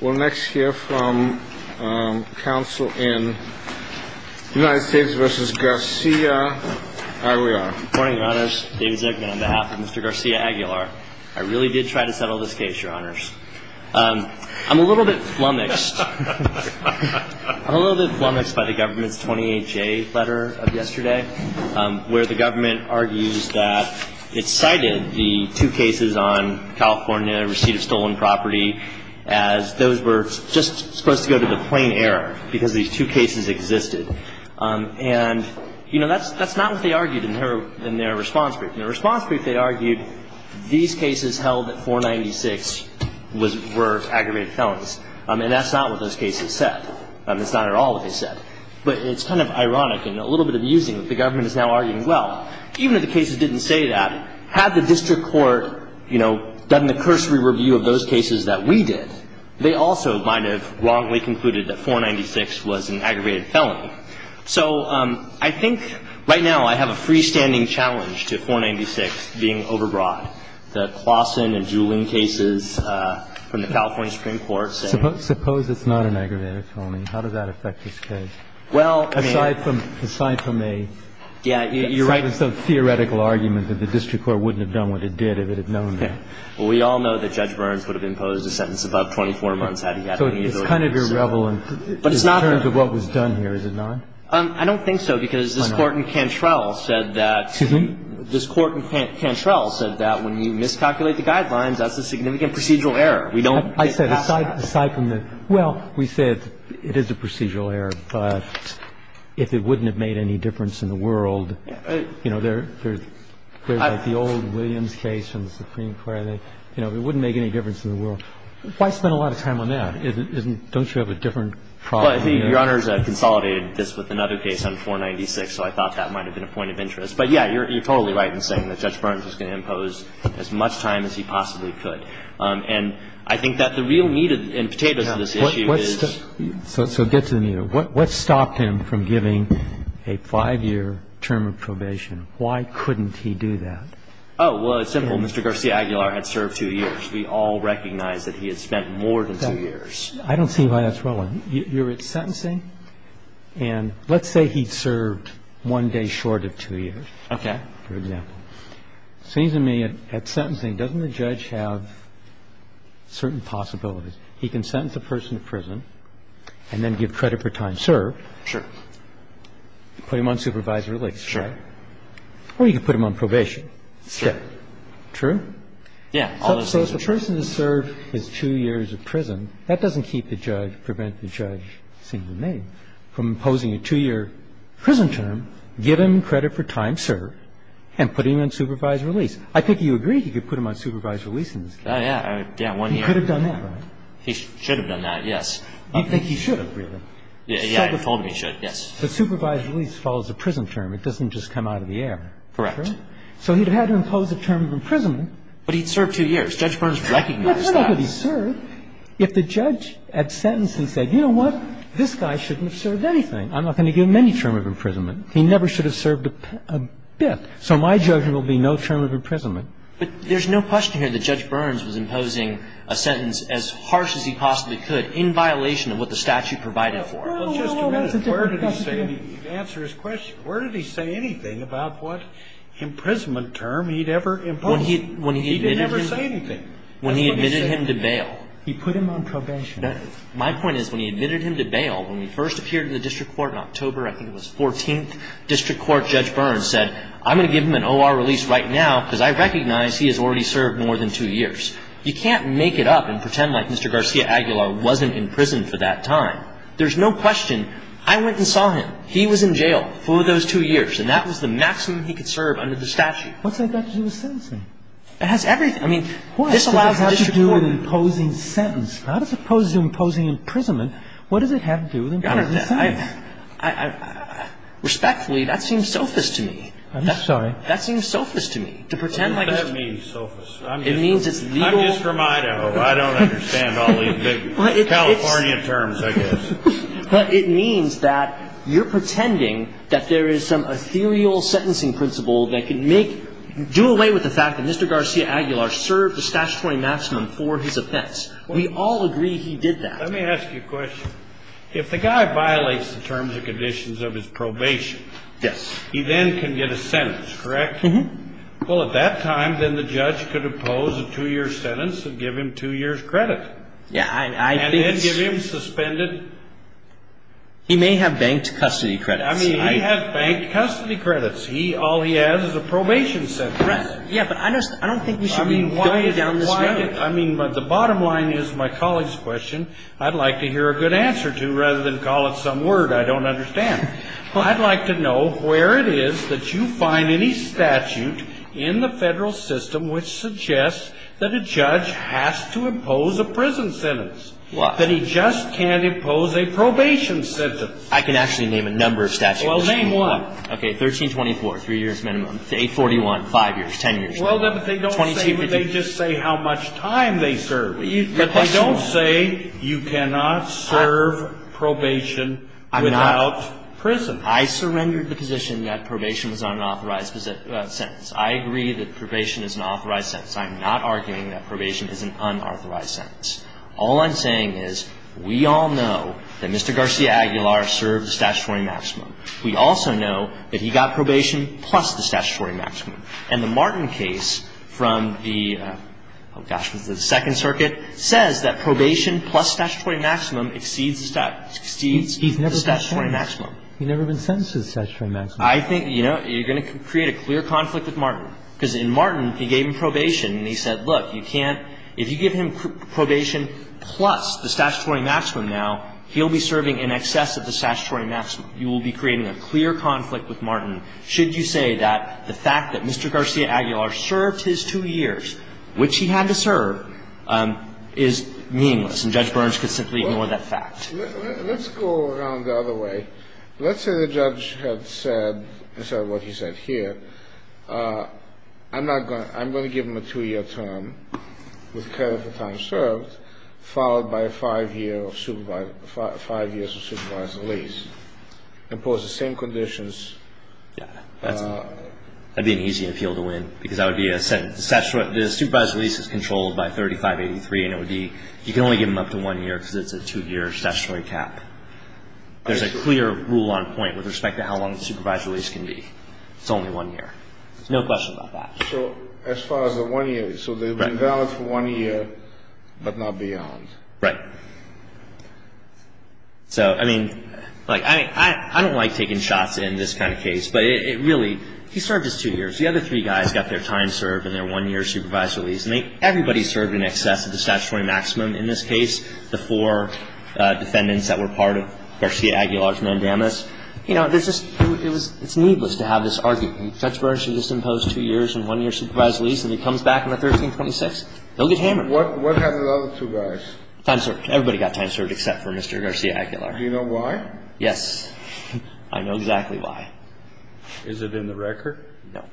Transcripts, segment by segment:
We'll next hear from counsel in United States v. Garcia. There we are. Good morning, Your Honors. David Zucman on behalf of Mr. Garcia-Aguilar. I really did try to settle this case, Your Honors. I'm a little bit flummoxed. I'm a little bit flummoxed by the government's 28-J letter of yesterday, where the government argues that it cited the two cases on California receipt of stolen property as those were just supposed to go to the plain error because these two cases existed. And, you know, that's not what they argued in their response brief. In their response brief, they argued these cases held at 496 were aggravated felons. And that's not what those cases said. It's not at all what they said. But it's kind of ironic and a little bit abusing that the government is now arguing, well, even if the cases didn't say that, had the district court, you know, done the cursory review of those cases that we did, they also might have wrongly concluded that 496 was an aggravated felony. So I think right now I have a freestanding challenge to 496 being overbrought. The Claussen and Juhlin cases from the California Supreme Court say — Suppose it's not an aggravated felony. How does that affect this case? Well, I mean — Aside from — aside from a — Yeah, you're — I mean, it's a theoretical argument that the district court wouldn't have done what it did if it had known that. Well, we all know that Judge Burns would have imposed a sentence above 24 months had he had any ability to sue. So it's kind of irreverent in terms of what was done here, is it not? I don't think so, because this Court in Cantrell said that — Excuse me? This Court in Cantrell said that when you miscalculate the guidelines, that's a significant procedural error. We don't — I said aside from the — well, we said it is a procedural error. But if it wouldn't have made any difference in the world — you know, there's — there's like the old Williams case in the Supreme Court. You know, it wouldn't make any difference in the world. Why spend a lot of time on that? Isn't — don't you have a different problem here? Your Honors, I've consolidated this with another case on 496, so I thought that might have been a point of interest. But, yeah, you're totally right in saying that Judge Burns was going to impose as much time as he possibly could. And I think that the real meat and potatoes of this issue is — So get to the meat of it. What stopped him from giving a five-year term of probation? Why couldn't he do that? Oh, well, it's simple. Mr. Garciagular had served two years. We all recognize that he had spent more than two years. I don't see why that's relevant. You're at sentencing. And let's say he served one day short of two years. Okay. For example. It seems to me at sentencing, doesn't the judge have certain possibilities? He can sentence a person to prison and then give credit for time served. Sure. Put him on supervised release. Sure. Or you can put him on probation. Sure. True? Yeah. So if a person has served his two years of prison, that doesn't keep the judge — prevent the judge, sing the name, from imposing a two-year prison term, give him credit for time served, and put him on supervised release. Yeah. Yeah, one year. He could have done that, right? He should have done that, yes. You think he should have, really? Yeah, he told me he should, yes. The supervised release follows a prison term. It doesn't just come out of the air. Correct. So he'd have had to impose a term of imprisonment. But he'd served two years. Judge Burns recognized that. That's not how he served. If the judge at sentencing said, you know what? This guy shouldn't have served anything. I'm not going to give him any term of imprisonment. He never should have served a bit. So my judgment will be no term of imprisonment. But there's no question here that Judge Burns was imposing a sentence as harsh as he possibly could in violation of what the statute provided for him. Well, just a minute. Where did he say — to answer his question, where did he say anything about what imprisonment term he'd ever imposed? He didn't ever say anything. When he admitted him to bail. He put him on probation. My point is, when he admitted him to bail, when he first appeared in the district court in October, I think it was 14th District Court, Judge Burns said, I'm going to give him an O.R. release right now because I recognize he has already served more than two years. You can't make it up and pretend like Mr. Garcia-Aguilar wasn't in prison for that time. There's no question. I went and saw him. He was in jail for those two years. And that was the maximum he could serve under the statute. What's that got to do with sentencing? It has everything. I mean, this allows the district court — What does it have to do with imposing sentence? Not as opposed to imposing imprisonment. What does it have to do with imposing sentence? I — respectfully, that seems selfish to me. I'm sorry? That seems selfish to me, to pretend like it's — What does that mean, selfish? It means it's legal — I'm just from Idaho. I don't understand all these big California terms, I guess. But it means that you're pretending that there is some ethereal sentencing principle that can make — do away with the fact that Mr. Garcia-Aguilar served a statutory maximum for his offense. We all agree he did that. Let me ask you a question. If the guy violates the terms and conditions of his probation, he then can get a sentence, correct? Mm-hmm. Well, at that time, then the judge could impose a two-year sentence and give him two years' credit. Yeah, I — And then give him suspended — He may have banked custody credits. I mean, he may have banked custody credits. All he has is a probation sentence. Right. Yeah, but I don't think we should be going down this road. I mean, the bottom line is my colleague's question. I'd like to hear a good answer to, rather than call it some word I don't understand. I'd like to know where it is that you find any statute in the federal system which suggests that a judge has to impose a prison sentence. What? That he just can't impose a probation sentence. I can actually name a number of statutes. Well, name one. Okay, 1324, three years minimum. 841, five years, ten years. Well, then, but they don't say — 2252. But they just say how much time they serve. But they don't say you cannot serve probation without prison. I surrendered the position that probation was an unauthorized sentence. I agree that probation is an authorized sentence. I'm not arguing that probation is an unauthorized sentence. All I'm saying is we all know that Mr. Garcia Aguilar served the statutory maximum. We also know that he got probation plus the statutory maximum. And the Martin case from the, oh, gosh, was it the Second Circuit, says that probation plus statutory maximum exceeds the statutory maximum. He's never been sentenced. He's never been sentenced to the statutory maximum. I think, you know, you're going to create a clear conflict with Martin. Because in Martin, he gave him probation, and he said, look, you can't — if you give him probation plus the statutory maximum now, he'll be serving in excess of the statutory maximum. You will be creating a clear conflict with Martin. Should you say that the fact that Mr. Garcia Aguilar served his two years, which he had to serve, is meaningless, and Judge Burns could simply ignore that fact? Let's go around the other way. Let's say the judge had said, instead of what he said here, I'm not going to — I'm going to give him a two-year term with care of the time served, followed by five years of supervised release. Impose the same conditions. Yeah. That'd be an easy appeal to win. Because that would be a — the supervised release is controlled by 3583, and it would be — you can only give him up to one year because it's a two-year statutory cap. There's a clear rule on point with respect to how long the supervised release can be. It's only one year. There's no question about that. So as far as the one year — so they've been valid for one year, but not beyond. Right. So, I mean, like, I don't like taking shots in this kind of case, but it really — he served his two years. The other three guys got their time served and their one-year supervised release, and they — everybody served in excess of the statutory maximum in this case, the four defendants that were part of Garcia Aguilar's mandamus. You know, there's just — it was — it's needless to have this argument. Judge Burns should just impose two years and one-year supervised release, and if he comes back on the 13th and 26th, he'll get hammered. What happened to the other two guys? Time served. Everybody got time served except for Mr. Garcia Aguilar. Do you know why? Yes. I know exactly why. Is it in the record? No.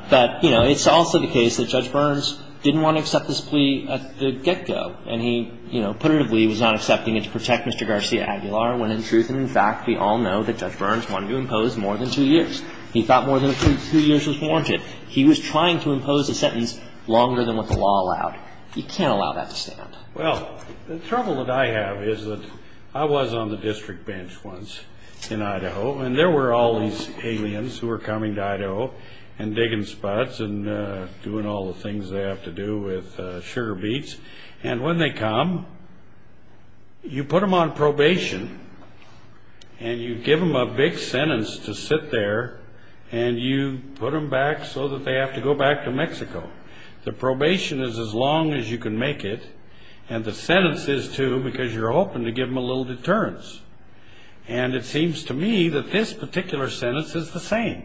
But, you know, it's also the case that Judge Burns didn't want to accept this plea at the get-go. And he, you know, putatively was not accepting it to protect Mr. Garcia Aguilar, when in truth and in fact we all know that Judge Burns wanted to impose more than two years. He thought more than two years was warranted. He was trying to impose a sentence longer than what the law allowed. He can't allow that to stand. Well, the trouble that I have is that I was on the district bench once in Idaho, and there were all these aliens who were coming to Idaho and digging spots and doing all the things they have to do with sugar beets. And when they come, you put them on probation, and you give them a big sentence to sit there, and you put them back so that they have to go back to Mexico. The probation is as long as you can make it, and the sentence is too because you're hoping to give them a little deterrence. And it seems to me that this particular sentence is the same.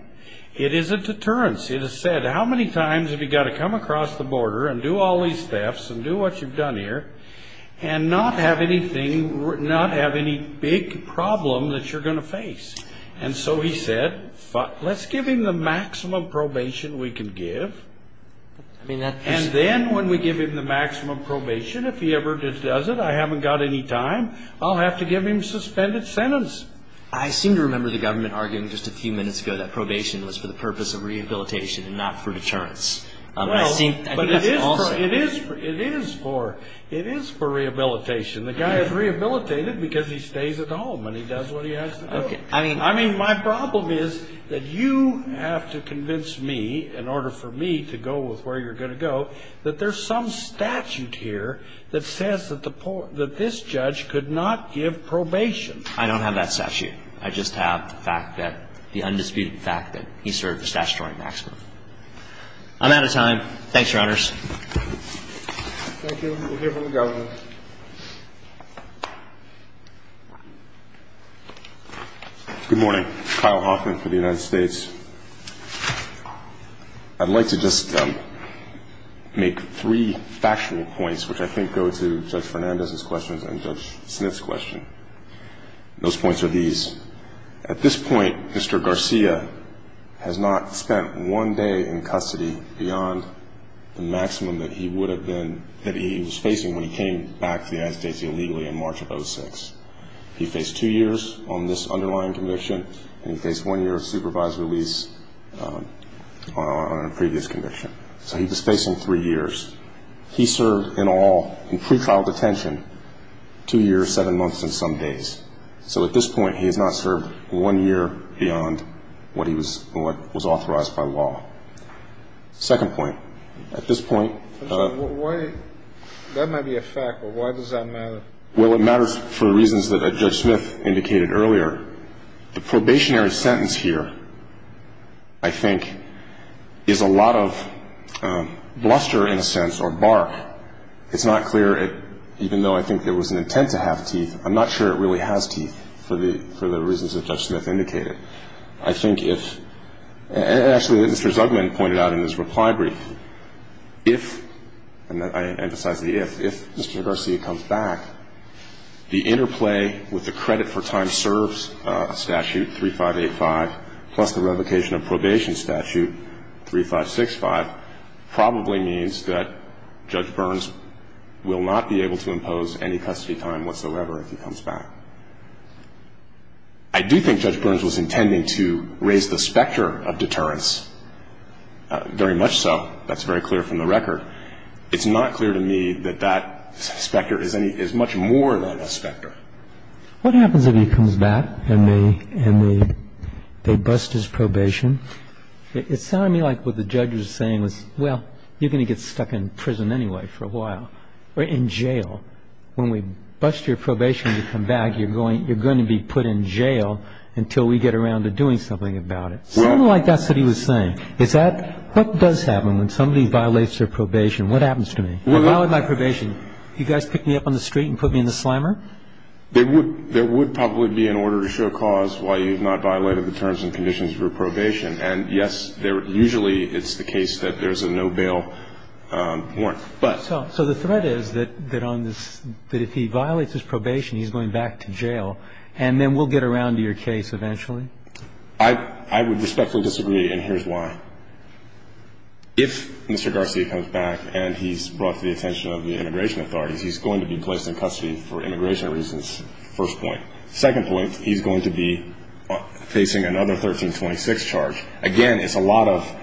It is a deterrence. It is said, how many times have you got to come across the border and do all these thefts and do what you've done here and not have any big problem that you're going to face? And so he said, let's give him the maximum probation we can give, and then when we give him the maximum probation, if he ever does it, I haven't got any time, I'll have to give him a suspended sentence. I seem to remember the government arguing just a few minutes ago that probation was for the purpose of rehabilitation and not for deterrence. Well, but it is for rehabilitation. The guy is rehabilitated because he stays at home and he does what he has to do. I mean, my problem is that you have to convince me, in order for me to go with where you're going to go, that there's some statute here that says that this judge could not give probation. I don't have that statute. I just have the fact that, the undisputed fact that he served the statutory maximum. I'm out of time. Thanks, Your Honors. Thank you. We'll hear from the Governor. Good morning. Kyle Hoffman for the United States. I'd like to just make three factual points, which I think go to Judge Fernandez's questions and Judge Smith's question. Those points are these. At this point, Mr. Garcia has not spent one day in custody beyond the maximum that he would have been, that he was facing when he came back to the United States illegally in March of 2006. He faced two years on this underlying conviction and he faced one year of supervised release on a previous conviction. So he was facing three years. He served in all, in pretrial detention, two years, seven months, and some days. So at this point, he has not served one year beyond what he was authorized by law. Second point. At this point. That might be a fact, but why does that matter? Well, it matters for reasons that Judge Smith indicated earlier. The probationary sentence here, I think, is a lot of bluster, in a sense, or bark. It's not clear. Even though I think there was an intent to have teeth, I'm not sure it really has teeth for the reasons that Judge Smith indicated. I think if, and actually what Mr. Zugman pointed out in his reply brief, if, and I emphasize the if, if Mr. Garcia comes back, the interplay with the credit for time serves statute 3585 plus the revocation of probation statute 3565 probably means that Judge Burns will not be able to impose any custody time whatsoever if he comes back. I do think Judge Burns was intending to raise the specter of deterrence. Very much so. That's very clear from the record. It's not clear to me that that specter is much more than a specter. What happens if he comes back and they bust his probation? It sounded to me like what the judge was saying was, well, you're going to get stuck in prison anyway for a while. Or in jail. When we bust your probation and you come back, you're going to be put in jail until we get around to doing something about it. Something like that's what he was saying. Is that, what does happen when somebody violates their probation? What happens to me? I violated my probation. You guys pick me up on the street and put me in the slammer? There would probably be an order to show cause why you've not violated the terms and conditions for probation. And yes, usually it's the case that there's a no bail warrant. So the threat is that if he violates his probation, he's going back to jail and then we'll get around to your case eventually? I would respectfully disagree and here's why. If Mr. Garcia comes back and he's brought to the attention of the immigration authorities, he's going to be placed in custody for immigration reasons, first point. Second point, he's going to be facing another 1326 charge. Again, it's a lot of,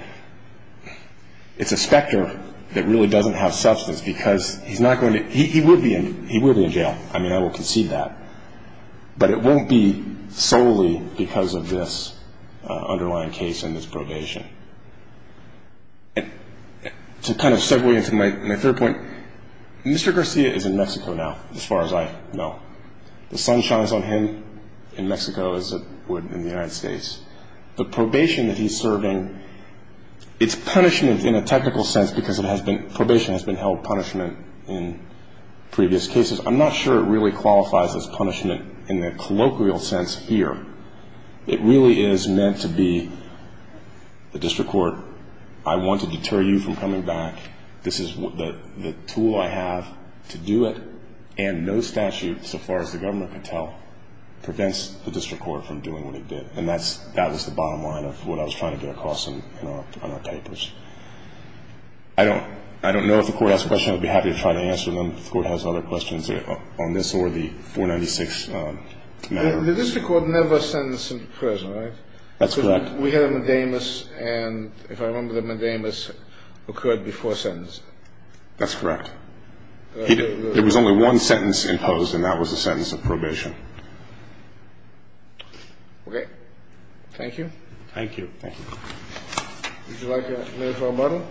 it's a specter that really doesn't have substance because he's not going to, he would be in jail. I mean, I will concede that. But it won't be solely because of this underlying case and this probation. To kind of segue into my third point, Mr. Garcia is in Mexico now, as far as I know. The sun shines on him in Mexico as it would in the United States. The probation that he's serving, it's punishment in a technical sense because it has been, probation has been held punishment in previous cases. I'm not sure it really qualifies as punishment in the colloquial sense here. It really is meant to be the district court, I want to deter you from coming back, this is the tool I have to do it and no statute, so far as the government can tell, prevents the district court from doing what it did. And that was the bottom line of what I was trying to get across in our papers. I don't know if the court has a question, I'd be happy to try to answer them. If the court has other questions on this or the 496 matter. The district court never sentenced him to prison, right? That's correct. We had a medamus and if I remember the medamus occurred before sentencing. That's correct. There was only one sentence imposed and that was the sentence of probation. Okay, thank you. Thank you. Thank you. Would you like a minute or a moment?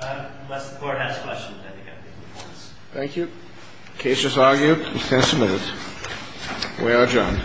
Unless the court has questions, I think I'm taking the points. Thank you. Case just argued. Case submitted. We are adjourned. Thank you.